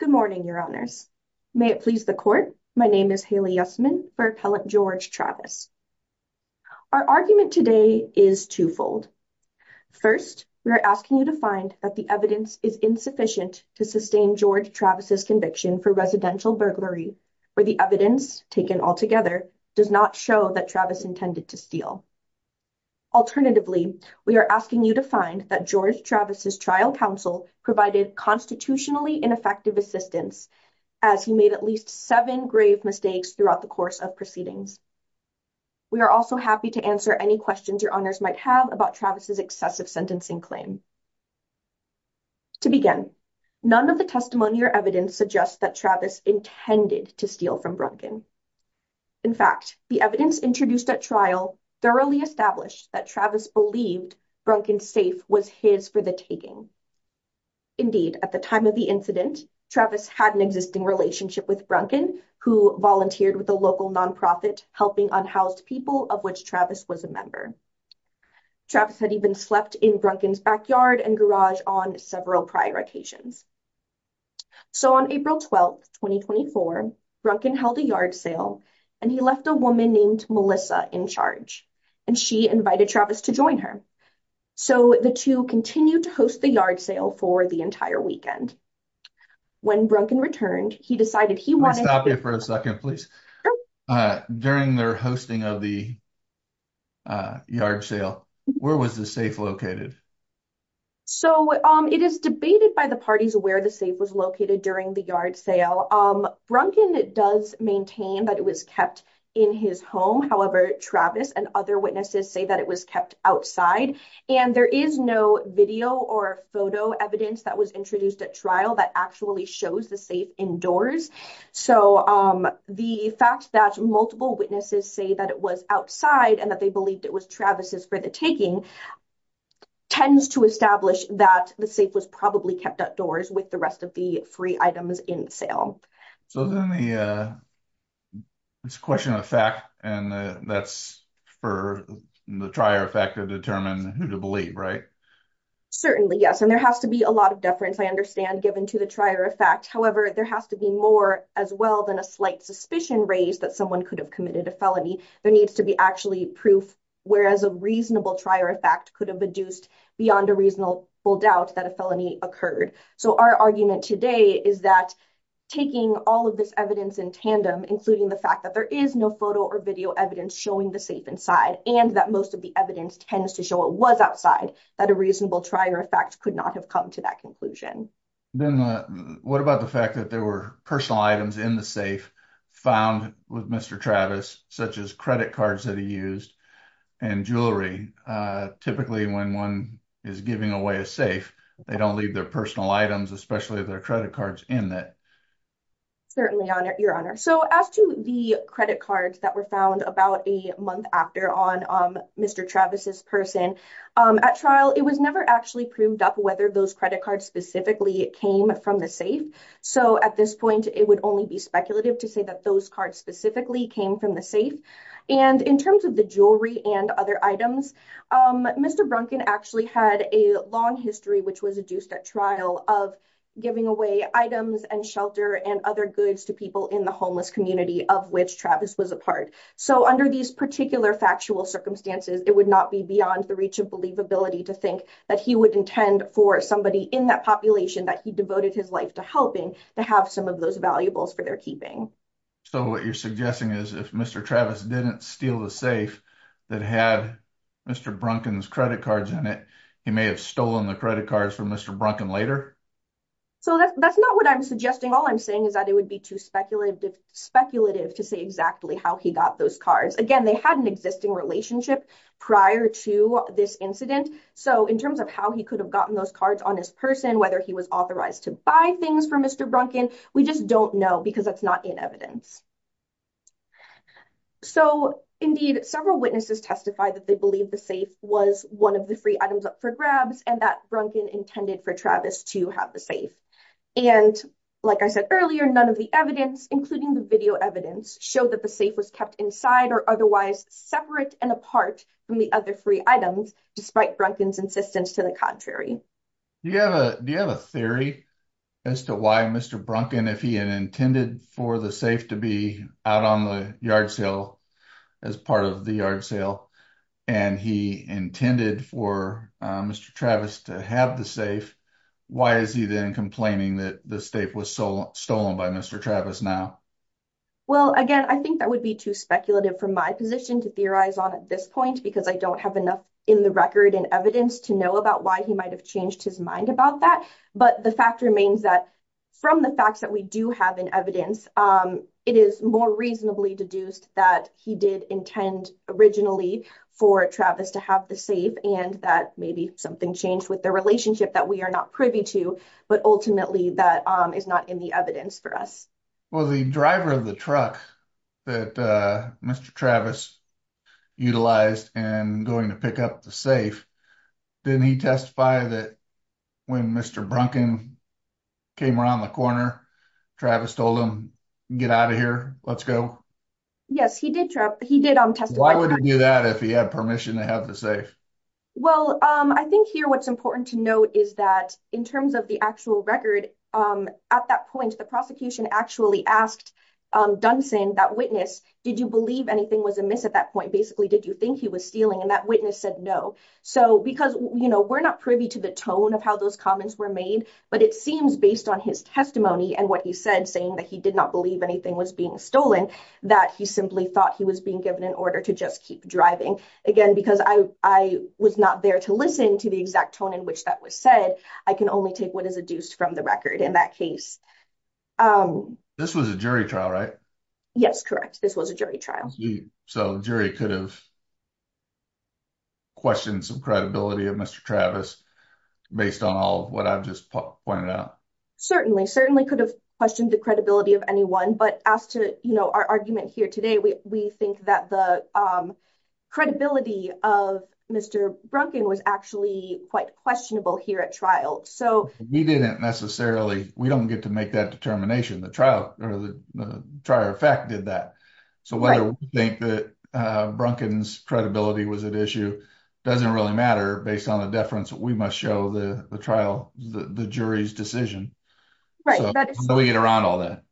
Good morning, Your Honours. May it please the Court, my name is Haley Yussman for Appellant George Travis. Our argument today is twofold. First, we are asking you to find that the evidence is insufficient to sustain George Travis' conviction for residential burglary, or the evidence, taken altogether, does not show that Travis intended to steal. Alternatively, we are asking you to find that George Travis' trial counsel provided constitutionally ineffective assistance, as he made at least seven grave mistakes throughout the course of proceedings. We are also happy to answer any questions Your Honours might have about Travis' excessive sentencing claim. To begin, none of the testimony or evidence suggests that Travis intended to steal from Brunton. In fact, the evidence introduced at thoroughly established that Travis believed Brunton's safe was his for the taking. Indeed, at the time of the incident, Travis had an existing relationship with Brunton, who volunteered with a local non-profit helping unhoused people, of which Travis was a member. Travis had even slept in Brunton's backyard and garage on several prior occasions. So, on April 12, 2024, Brunton held a yard sale, and he left a woman named Melissa in charge, and she invited Travis to join her. So, the two continued to host the yard sale for the entire weekend. When Brunton returned, he decided he wanted- Can we stop you for a second, please? During their hosting of the yard sale, where was the safe located? So, it is debated by the parties where the safe was located during the yard sale. Brunton does maintain that it was kept in his home. However, Travis and other witnesses say that it was kept outside, and there is no video or photo evidence that was introduced at trial that actually shows the safe indoors. So, the fact that multiple witnesses say that it was kept outside, and that they believed it was Travis' for the taking, tends to establish that the safe was probably kept outdoors with the rest of the free items in the sale. So, then, it's a question of fact, and that's for the trier of fact to determine who to believe, right? Certainly, yes, and there has to be a lot of deference, I understand, given to the trier of fact. However, there has to be more as well than a slight suspicion raised that someone could have proof, whereas a reasonable trier of fact could have deduced beyond a reasonable doubt that a felony occurred. So, our argument today is that taking all of this evidence in tandem, including the fact that there is no photo or video evidence showing the safe inside, and that most of the evidence tends to show it was outside, that a reasonable trier of fact could not have come to that conclusion. Then, what about the fact that there were and jewelry? Typically, when one is giving away a safe, they don't leave their personal items, especially their credit cards, in it. Certainly, Your Honor. So, as to the credit cards that were found about a month after on Mr. Travis' person, at trial, it was never actually proved up whether those credit cards specifically came from the safe. So, at this point, it would only be speculative to say that those cards specifically came from the safe. And, in terms of the jewelry and other items, Mr. Brunkin actually had a long history, which was deduced at trial, of giving away items and shelter and other goods to people in the homeless community of which Travis was a part. So, under these particular factual circumstances, it would not be beyond the reach of believability to think that he would intend for somebody in that population that he devoted his life to helping to have some of those valuables for their keeping. So, what you're suggesting is if Mr. Travis didn't steal the safe that had Mr. Brunkin's credit cards in it, he may have stolen the credit cards from Mr. Brunkin later? So, that's not what I'm suggesting. All I'm saying is that it would be too speculative to say exactly how he got those cards. Again, they had an existing relationship prior to this incident. So, in terms of how he could have gotten those cards on his person, whether he was authorized to buy things for Mr. Brunkin, we just don't know because that's not in evidence. So, indeed, several witnesses testified that they believed the safe was one of the free items up for grabs and that Brunkin intended for Travis to have the safe. And, like I said earlier, none of the evidence, including the video evidence, showed that the safe was kept inside or otherwise separate and apart from the other free items, despite Brunkin's insistence to the contrary. Do you have a theory as to why Mr. Brunkin, if he had intended for the safe to be out on the yard sale, as part of the yard sale, and he intended for Mr. Travis to have the safe, why is he then complaining that the safe was stolen by Mr. Travis now? Well, again, I think that would be too speculative for my position to theorize on at this point because I don't have enough record and evidence to know about why he might have changed his mind about that. But the fact remains that from the facts that we do have in evidence, it is more reasonably deduced that he did intend originally for Travis to have the safe and that maybe something changed with the relationship that we are not privy to, but ultimately that is not in the evidence for us. Well, the driver of the truck that Mr. Travis utilized in going to pick up the safe, didn't he testify that when Mr. Brunkin came around the corner, Travis told him, get out of here, let's go? Yes, he did testify. Why would he do that if he had permission to have the safe? Well, I think here what's important to note is that in terms of the actual record, at that point, the prosecution actually asked Dunson, that witness, did you believe anything was amiss at that point? Basically, did you think he was stealing? And that witness said no. So because we're not privy to the tone of how those comments were made, but it seems based on his testimony and what he said, saying that he did not believe anything was being stolen, that he simply thought he was being given an order to just keep driving. Again, because I was not there to listen to the exact tone in which that was said, I can only take what is deduced from the record in that case. This was a jury trial, right? Yes, correct. This was a jury trial. So jury could have questioned some credibility of Mr. Travis, based on all of what I've just pointed out. Certainly, certainly could have questioned the credibility of anyone, but as to our argument here today, we think that the credibility of Mr. Brunkin was actually quite questionable here at trial. We didn't necessarily, we don't get to make that determination. The trial or the trial effect did that. So whether we think that Brunkin's credibility was at issue, doesn't really matter based on the deference that we must show the trial, the jury's decision. Right. So we get around all that.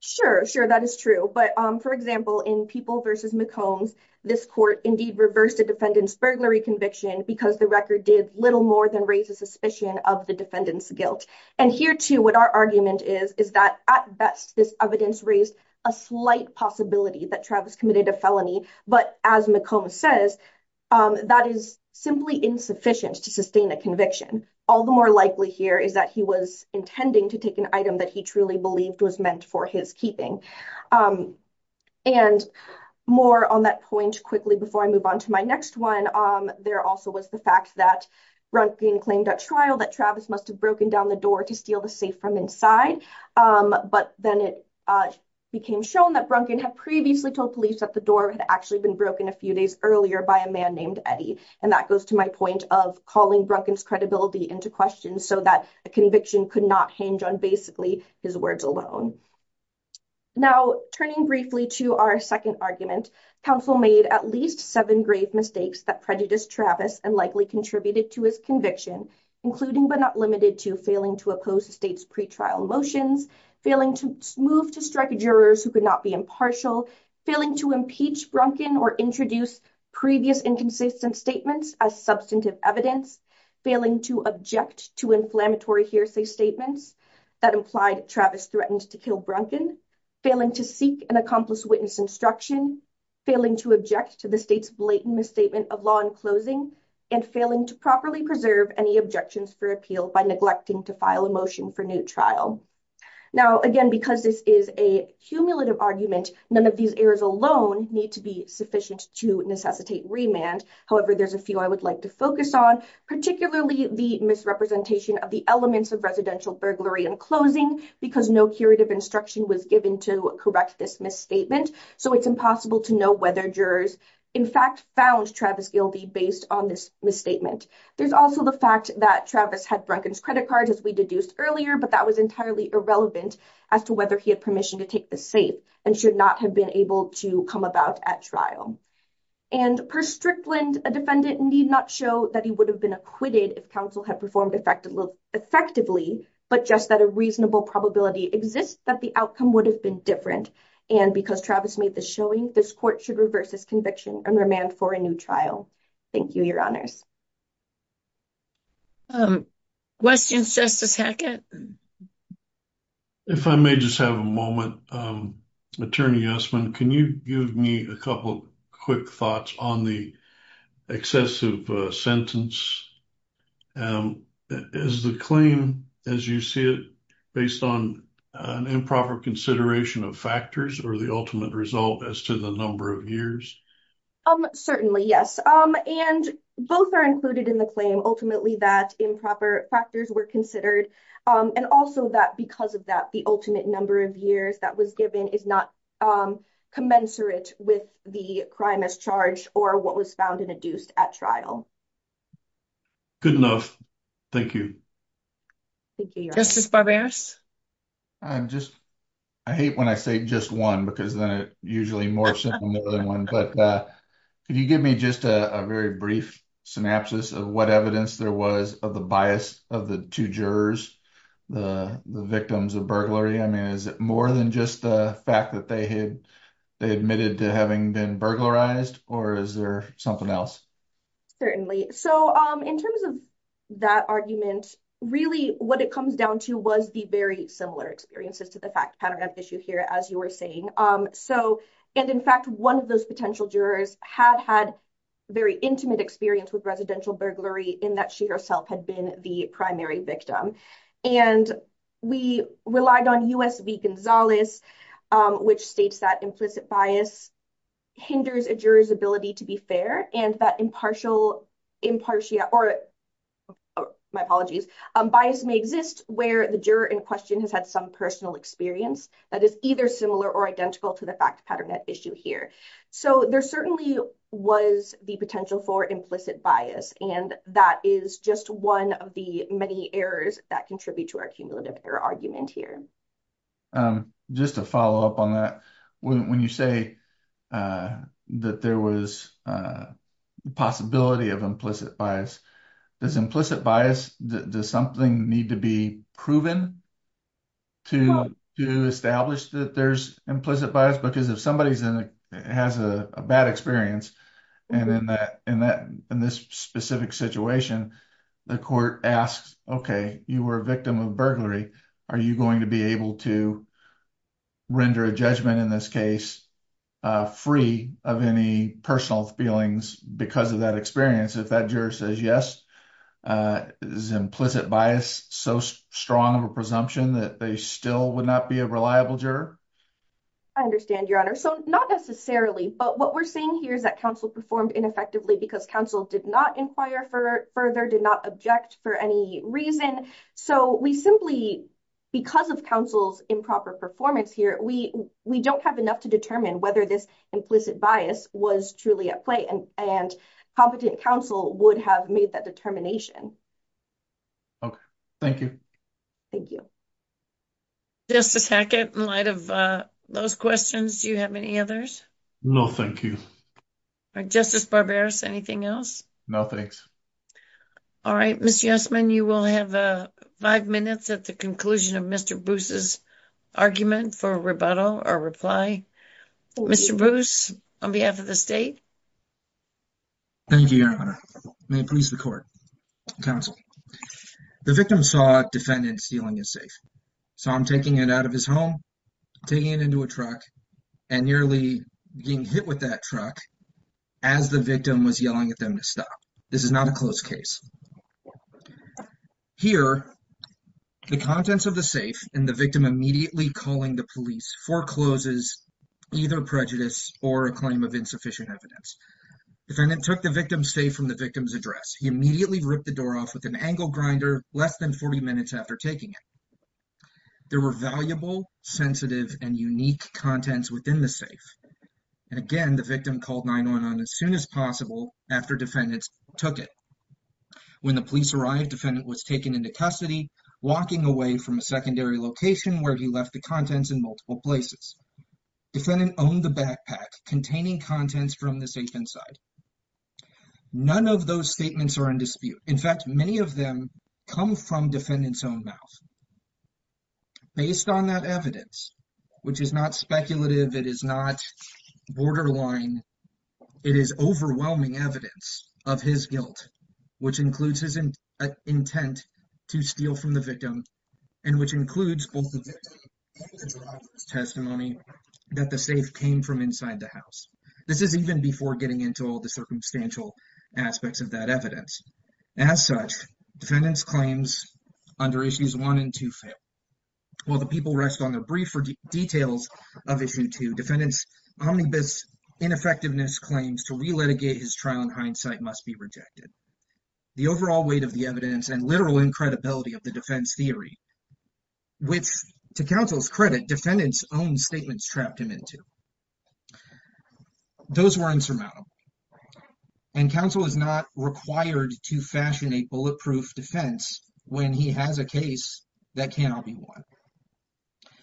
Sure, sure. That is true. But for example, in People v. McCombs, this court indeed reversed a defendant's burglary conviction because the did little more than raise a suspicion of the defendant's guilt. And here too, what our argument is, is that at best, this evidence raised a slight possibility that Travis committed a felony. But as McCombs says, that is simply insufficient to sustain a conviction. All the more likely here is that he was intending to take an item that he truly believed was meant for his keeping. And more on that point quickly before I move on to my next one, there also was the fact Brunkin claimed at trial that Travis must have broken down the door to steal the safe from inside. But then it became shown that Brunkin had previously told police that the door had actually been broken a few days earlier by a man named Eddie. And that goes to my point of calling Brunkin's credibility into question so that a conviction could not hinge on basically his words alone. Now, turning briefly to our second argument, counsel made at least seven grave mistakes that and likely contributed to his conviction, including but not limited to failing to oppose the state's pretrial motions, failing to move to strike jurors who could not be impartial, failing to impeach Brunkin or introduce previous inconsistent statements as substantive evidence, failing to object to inflammatory hearsay statements that implied Travis threatened to kill Brunkin, failing to seek an accomplice witness instruction, failing to object to the blatant misstatement of law in closing, and failing to properly preserve any objections for appeal by neglecting to file a motion for new trial. Now, again, because this is a cumulative argument, none of these errors alone need to be sufficient to necessitate remand. However, there's a few I would like to focus on, particularly the misrepresentation of the elements of residential burglary and closing, because no curative instruction was given to correct this misstatement, so it's impossible to know whether jurors, in fact, found Travis guilty based on this misstatement. There's also the fact that Travis had Brunkin's credit card, as we deduced earlier, but that was entirely irrelevant as to whether he had permission to take the safe and should not have been able to come about at trial. And per Strickland, a defendant need not show that he would have been acquitted if counsel had performed effectively, effectively, but just that a reasonable probability exists that the outcome would have been different. And because Travis made the showing, this court should reverse this conviction and remand for a new trial. Thank you, Your Honors. Questions, Justice Hackett? If I may just have a moment, Attorney Usman, can you give me a couple quick thoughts on the excessive sentence? Is the claim, as you see it, based on an improper consideration of factors or the ultimate result as to the number of years? Certainly, yes. And both are included in the claim, ultimately, that improper factors were considered, and also that because of that, the ultimate number of years that was given is not commensurate with the crime as charged or was found and adduced at trial. Good enough. Thank you. Justice Barberos? I hate when I say just one because then it usually morphs into more than one. But could you give me just a very brief synopsis of what evidence there was of the bias of the two jurors, the victims of burglary? I mean, is it more than just the fact that they admitted to being burglarized, or is there something else? Certainly. So in terms of that argument, really what it comes down to was the very similar experiences to the fact pattern of issue here, as you were saying. And in fact, one of those potential jurors had had very intimate experience with residential burglary in that she herself had been the primary victim. And we relied on U.S. v. Gonzalez, which states that implicit bias hinders a juror's ability to be fair, and that impartial, or my apologies, bias may exist where the juror in question has had some personal experience that is either similar or identical to the fact pattern at issue here. So there certainly was the potential for implicit bias, and that is just one of the many errors that contribute to our cumulative error argument here. Just to follow up on that, when you say that there was a possibility of implicit bias, does implicit bias, does something need to be proven to establish that there's implicit bias? Because if somebody has a bad experience, and in this specific situation, the court asks, okay, you were a victim of burglary, are you going to be able to render a judgment in this case free of any personal feelings because of that experience? If that juror says yes, is implicit bias so strong of a presumption that they still would not be a reliable juror? I understand, Your Honor. So not necessarily, but what we're saying here is that counsel may not be a reliable juror for any reason. So we simply, because of counsel's improper performance here, we don't have enough to determine whether this implicit bias was truly at play and competent counsel would have made that determination. Okay. Thank you. Thank you. Justice Hackett, in light of those questions, do you have any others? No, thank you. Justice Barberis, anything else? No, thanks. All right. Mr. Yesman, you will have five minutes at the conclusion of Mr. Bruce's argument for rebuttal or reply. Mr. Bruce, on behalf of the state. Thank you, Your Honor. May it please the court. Counsel, the victim saw a defendant stealing his safe. So I'm taking it out of his home, taking it into a truck, and nearly being hit with that truck as the victim was yelling at them to stop. This is not a close case. Here, the contents of the safe and the victim immediately calling the police forecloses either prejudice or a claim of insufficient evidence. Defendant took the victim's safe from the victim's address. He immediately ripped the door off with an angle grinder less than 40 minutes after taking it. There were valuable, sensitive, and unique contents within the safe. Again, the victim called 9-1-1 as soon as possible after defendants took it. When the police arrived, defendant was taken into custody, walking away from a secondary location where he left the contents in multiple places. Defendant owned the backpack containing contents from the safe inside. None of those statements are in dispute. In fact, many of them come from defendant's own mouth. Based on that evidence, which is not speculative, it is not borderline, it is overwhelming evidence of his guilt, which includes his intent to steal from the victim, and which includes both the victim and the driver's testimony that the safe came from inside the house. This is even before getting into all the circumstantial aspects of that evidence. As such, defendant's claims under Issues 1 and 2 fail. While the people rest on the brief details of Issue 2, defendant's omnibus ineffectiveness claims to re-litigate his trial in hindsight must be rejected. The overall weight of the evidence and literal incredibility of the defense theory, which, to counsel's credit, defendant's own statements trapped him into, those were insurmountable. And counsel is not required to fashion a bulletproof defense when he has a case that cannot be won.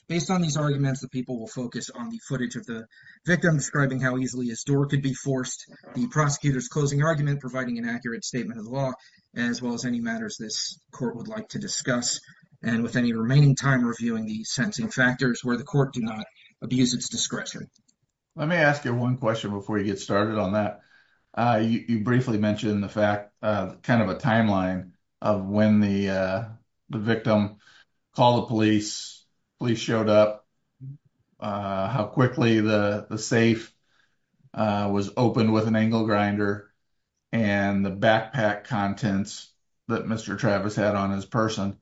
Based on these arguments, the people will focus on the footage of the victim describing how easily his door could be forced, the prosecutor's closing argument providing an accurate statement of the law, as well as any matters this court would like to discuss, and with any remaining time reviewing the sentencing factors where the court do not abuse its discretion. Let me ask you one question before you get started on that. You briefly mentioned the fact, kind of a timeline of when the victim called the police, police showed up, how quickly the safe was opened with an angle grinder, and the backpack contents that Mr. Travis had on his person.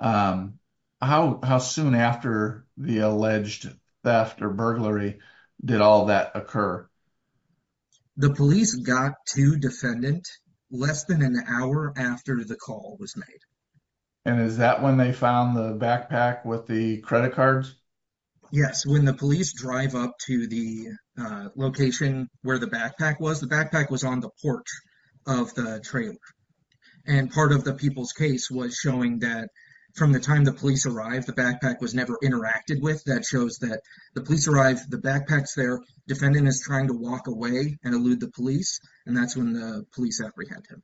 How soon after the alleged theft or burglary did all that occur? The police got to defendant less than an hour after the call was made. And is that when they found the backpack with the credit cards? Yes, when the police drive up to the location where the backpack was, the backpack was on the porch of the trailer. And part of the people's case was showing that from the time the police arrived, the backpack was never interacted with. That shows that the police arrived, the backpacks there, defendant is trying to walk away and elude the police. And that's when the police apprehended him.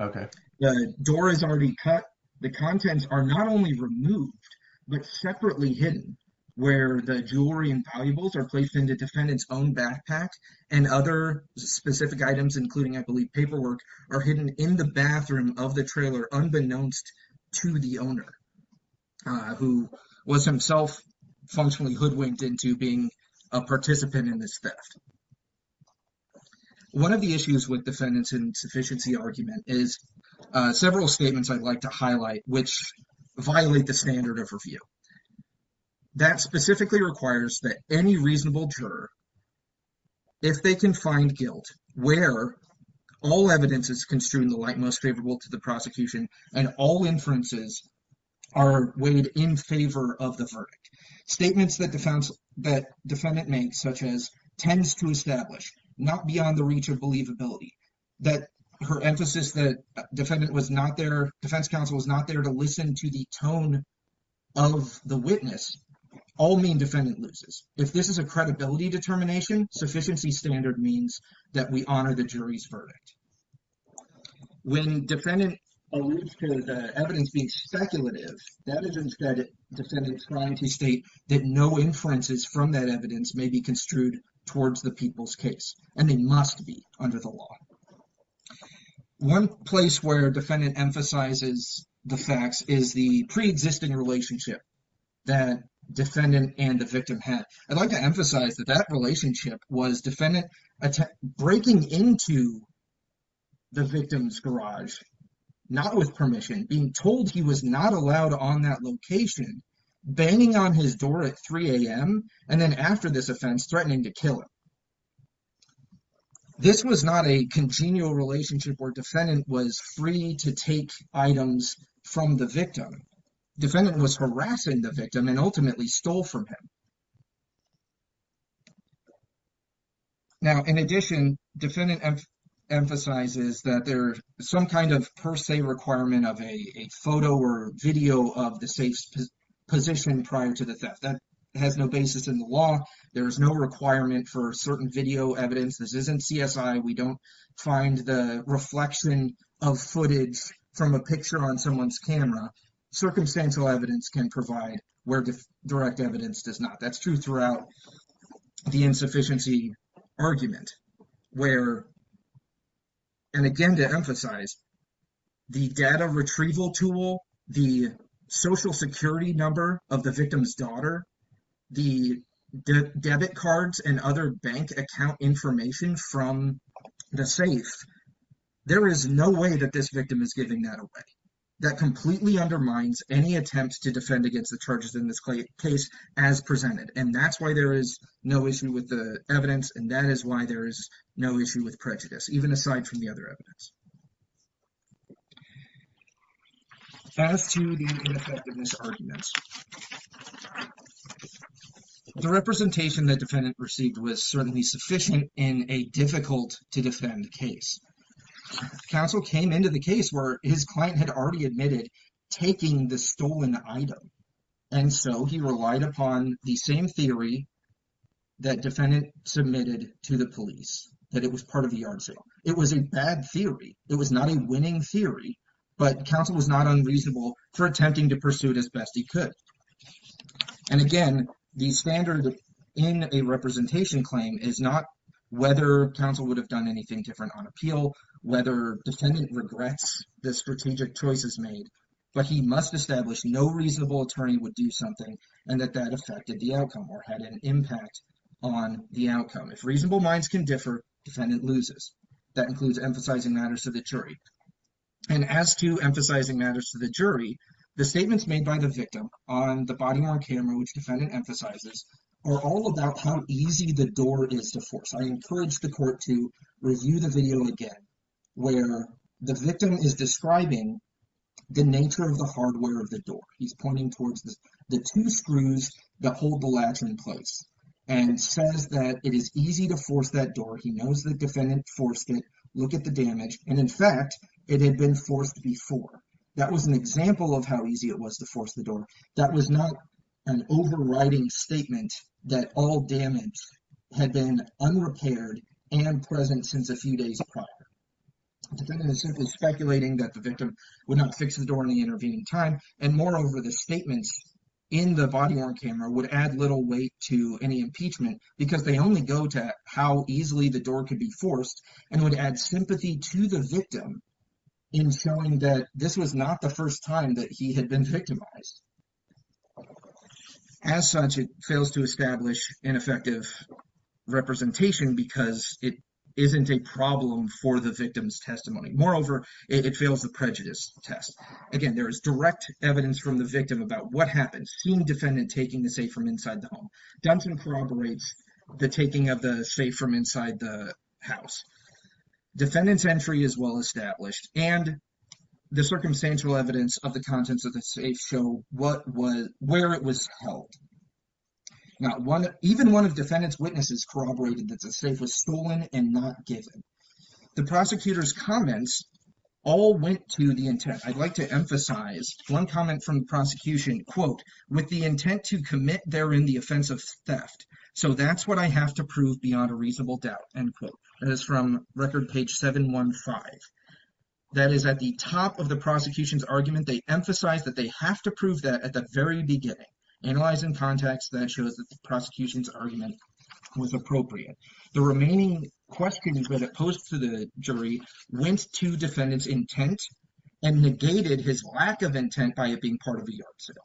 Okay. The door is already cut. The contents are not only removed, but separately hidden, where the jewelry and valuables are placed into defendant's own backpack and other specific items, including I believe paperwork are hidden in the bathroom of the unbeknownst to the owner, who was himself functionally hoodwinked into being a participant in this theft. One of the issues with defendants insufficiency argument is several statements I'd like to highlight, which violate the standard of review. That specifically requires that any reasonable juror, if they can find guilt, where all evidence is construed in the light most favorable to the prosecution, and all inferences are weighed in favor of the verdict. Statements that defendant makes, such as tends to establish, not beyond the reach of believability, that her emphasis that defendant was not there, defense counsel was not there to listen to the tone of the witness, all mean defendant loses. If this is a credibility determination, sufficiency standard means that we honor the jury's verdict. When defendant alludes to the evidence being speculative, that is instead defendant's trying to state that no inferences from that evidence may be construed towards the people's case, and they must be under the law. One place where defendant emphasizes the facts is the pre-existing relationship that defendant and the victim had. I'd like to emphasize that that relationship was defendant breaking into the victim's garage, not with permission, being told he was not allowed on that location, banging on his door at 3 a.m., and then after this offense, threatening to kill him. This was not a congenial relationship where defendant was free to take items from the victim. Defendant was harassing the victim and ultimately stole from him. Now, in addition, defendant emphasizes that there's some kind of per se requirement of a photo or video of the safe's position prior to the theft. That has no basis in the law. There is no requirement for certain video evidence. This isn't CSI. We don't find the reflection of footage from a picture on someone's camera. Circumstantial evidence can provide where direct evidence does not. That's true throughout the insufficiency argument where, and again to emphasize, the data retrieval tool, the social security number of the victim's daughter, the debit cards, and other bank account information from the safe, there is no way that this victim is giving that away. That completely undermines any attempt to defend against the charges in this case as presented, and that's why there is no issue with the evidence, and that is why there is no issue with prejudice, even aside from the other evidence. As to the ineffectiveness argument, the representation that defendant received was certainly sufficient in a difficult-to-defend case. Counsel came into the case where his client had already admitted taking the stolen item, and so he relied upon the same theory that defendant submitted to the police, that it was part of the yard sale. It was a bad theory. It was not a winning theory, but counsel was not unreasonable for attempting to pursue it as best he could. And again, the standard in a representation claim is not whether counsel would have done anything different on appeal, whether defendant regrets the strategic choices made, but he must establish no reasonable attorney would do something, and that that affected the outcome or had an impact on the outcome. If reasonable minds can differ, defendant loses. That includes emphasizing matters to the jury. And as to emphasizing matters to the jury, the statements made by the victim on the body-worn camera, which defendant emphasizes, are all about how easy the door is to force. I encourage the court to review the video again, where the victim is describing the nature of the hardware of the door. He's pointing towards the two screws that hold the latch in place and says that it is easy to force that door. He knows the defendant forced it. Look at the damage. And in fact, it had been forced before. That was an example of how easy it was to force the door. That was not an overriding statement that all damage had been unrepaired and present since a few days prior. The defendant is simply speculating that the victim would not fix the door in the intervening time. And moreover, the statements in the body-worn camera would add little weight to any impeachment because they only go to how easily the door could be forced and would add sympathy to the victim in showing that this was not the first time that he had been victimized. As such, it fails to establish an effective representation because it isn't a problem for the victim's testimony. Moreover, it fails the prejudice test. Again, there is direct evidence from the victim about what happened, seeing defendant taking the safe from inside the home. Dunson corroborates the taking of the safe from inside the house. Defendant's entry is well established, and the circumstantial evidence of the contents of the safe show where it was held. Even one of defendant's witnesses corroborated that the safe was stolen and not given. The prosecutor's comments all went to the intent. I'd like to emphasize one comment from the prosecution, quote, with the intent to commit therein the offense of theft. So that's what I have to prove beyond a reasonable doubt, end quote. That is from record page 715. That is at the top of the prosecution's argument, they emphasize that they have to prove that at the very beginning. Analyze in context that shows that the prosecution's argument was appropriate. The remaining questions that are posed to the jury went to defendant's intent and negated his lack of intent by it being part of a yard sale.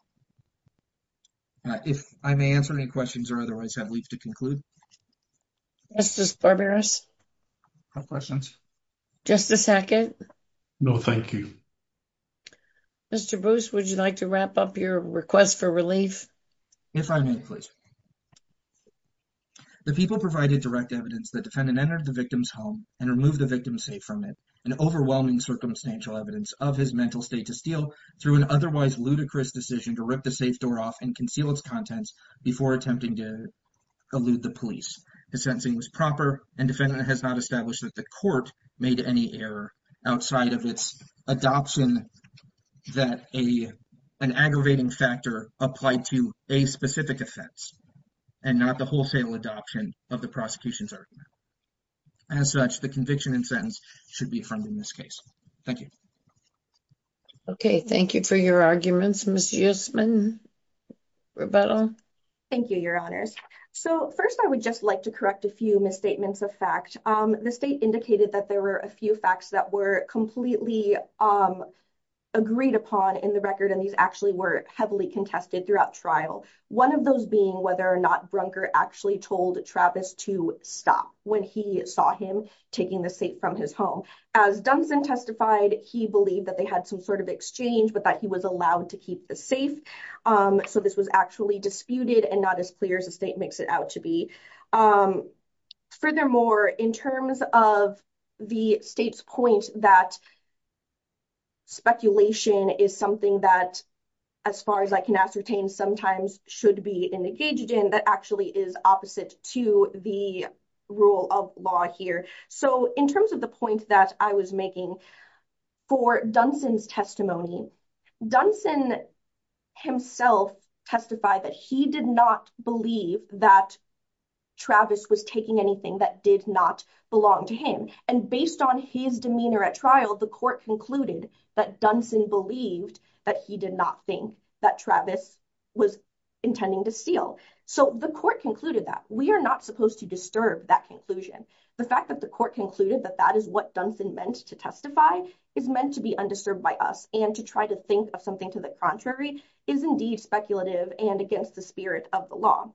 If I may answer any questions or otherwise have leave to conclude. Justice Barberos? No questions. Justice Hackett? No, thank you. Mr. Bruce, would you like to wrap up your request for relief? If I may, please. The people provided direct evidence that defendant entered the victim's home and removed the victim's safe from it and overwhelming circumstantial evidence of his mental state to steal through an otherwise ludicrous decision to rip the safe door off and conceal its contents before attempting to elude the police. His sentencing was proper and defendant has not established that the court made any error outside of its adoption that an aggravating factor applied to a specific offense. And not the wholesale adoption of the prosecution's argument. As such, the conviction and sentence should be affirmed in this case. Thank you. Okay, thank you for your arguments. Ms. Yusman? Roberta? Thank you, your honors. So first, I would just like to correct a few misstatements of fact. The state indicated that there were a few facts that were completely agreed upon in the record, and these actually were heavily contested throughout trial. One of those being whether or not Brunker actually told Travis to stop when he saw him taking the safe from his home. As Dunson testified, he believed that they had some sort of exchange, but that he was allowed to keep the safe. So this was actually disputed and not as clear as the state makes it out to be. Furthermore, in terms of the state's point that speculation is something that, as far as I can ascertain, sometimes should be engaged in, that actually is opposite to the rule of law here. So in terms of the point that I was making, for Dunson's testimony, Dunson himself testified that he did not believe that Travis was taking anything that did not belong to him. And based on his demeanor at trial, the court concluded that Dunson believed that he did not think that Travis was intending to steal. So the court concluded that. We are not supposed to disturb that conclusion. The fact that the court concluded that that is what Dunson meant to testify is meant to be undisturbed by us and to try to think of something to the contrary is indeed speculative and against the spirit of the law.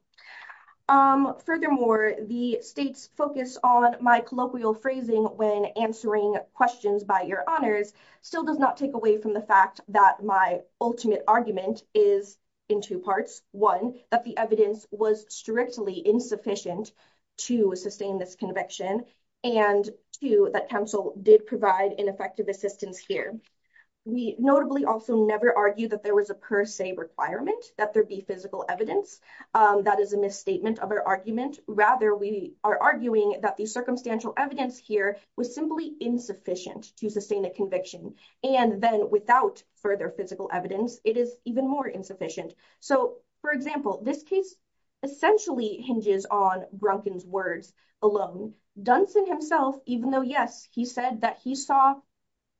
Furthermore, the state's focus on my colloquial phrasing when answering questions by your honors still does not take away from the fact that my ultimate argument is in two parts. One, that the evidence was strictly insufficient to sustain this conviction. And two, that counsel did provide an effective assistance here. We notably also never argue that there was a per se requirement that there be physical evidence. That is a misstatement of our argument. Rather, we are arguing that the circumstantial evidence here was simply insufficient to sustain a conviction. And then without further physical evidence, it is even more insufficient. So for example, this case essentially hinges on Brunkin's words alone. Dunson himself, even though yes, he said that he saw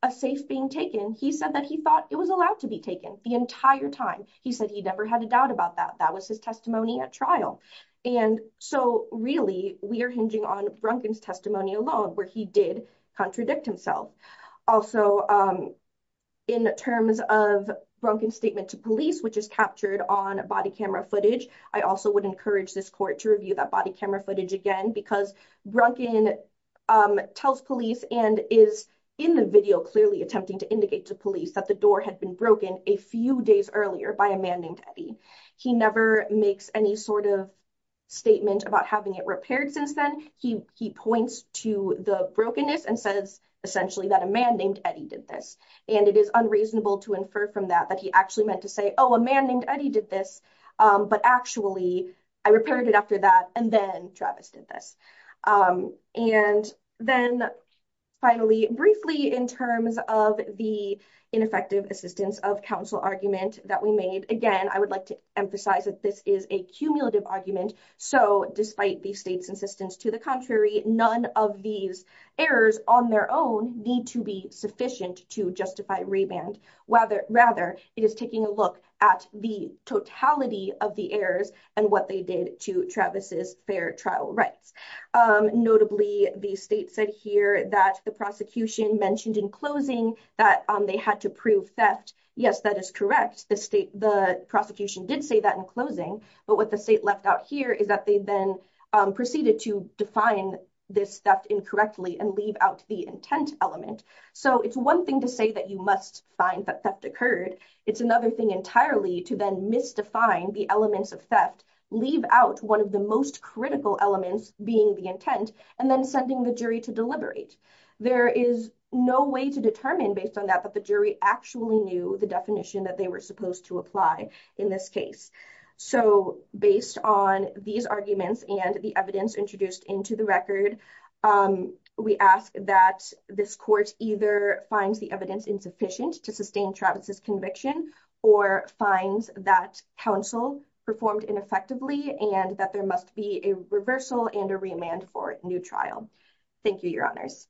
a safe being taken, he said that he thought it was allowed to be taken the entire time. He said he never had a doubt about that. That was his testimony at trial. And so really we are hinging on Brunkin's testimony alone where he did contradict himself. Also, in terms of Brunkin's statement to police, which is captured on body camera footage, I also would encourage this court to review that body camera footage again, because Brunkin tells police and is in the video clearly attempting to indicate to police that the door had been broken a few days earlier by a man named Eddie. He never makes any sort of statement about having it repaired since then. He points to the brokenness and says essentially that a man named Eddie did this. And it is unreasonable to infer from that that he actually meant to say, oh, a man named Eddie did this, but actually I repaired it after that and then Travis did this. And then finally, briefly in terms of the ineffective assistance of counsel argument that we made, again, I would like to emphasize that this is a cumulative argument. So despite the state's insistence to the contrary, none of these errors on their own need to be sufficient to justify reband. Rather, it is taking a look at the totality of the errors and what they did to Travis's fair trial rights. Notably, the state said here that the prosecution mentioned in closing that they had to prove theft. Yes, that is correct. The prosecution did say that in closing, but what the state left out here is that they then proceeded to define this theft incorrectly and leave out the intent element. So it's one thing to say that you must find that theft occurred. It's another thing entirely to then misdefine the elements of theft, leave out one of the most critical elements being the intent, and then sending the jury to deliberate. There is no way to determine based on that that the jury actually knew the definition that they were supposed to apply in this case. So based on these arguments and the evidence introduced into the record, we ask that this court either finds the evidence insufficient to sustain Travis's conviction, or finds that counsel performed ineffectively and that there must be a reversal and a remand for new trial. Thank you, your honors.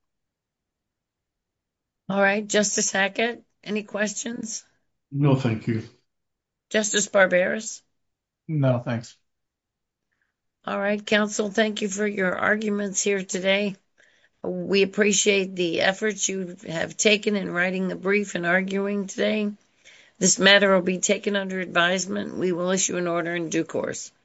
All right, Justice Hackett, any questions? No, thank you. Justice Barberis? No, thanks. All right, counsel, thank you for your arguments here today. We appreciate the efforts you have taken in writing the brief and arguing today. This matter will be taken under advisement. We will issue an order in due course.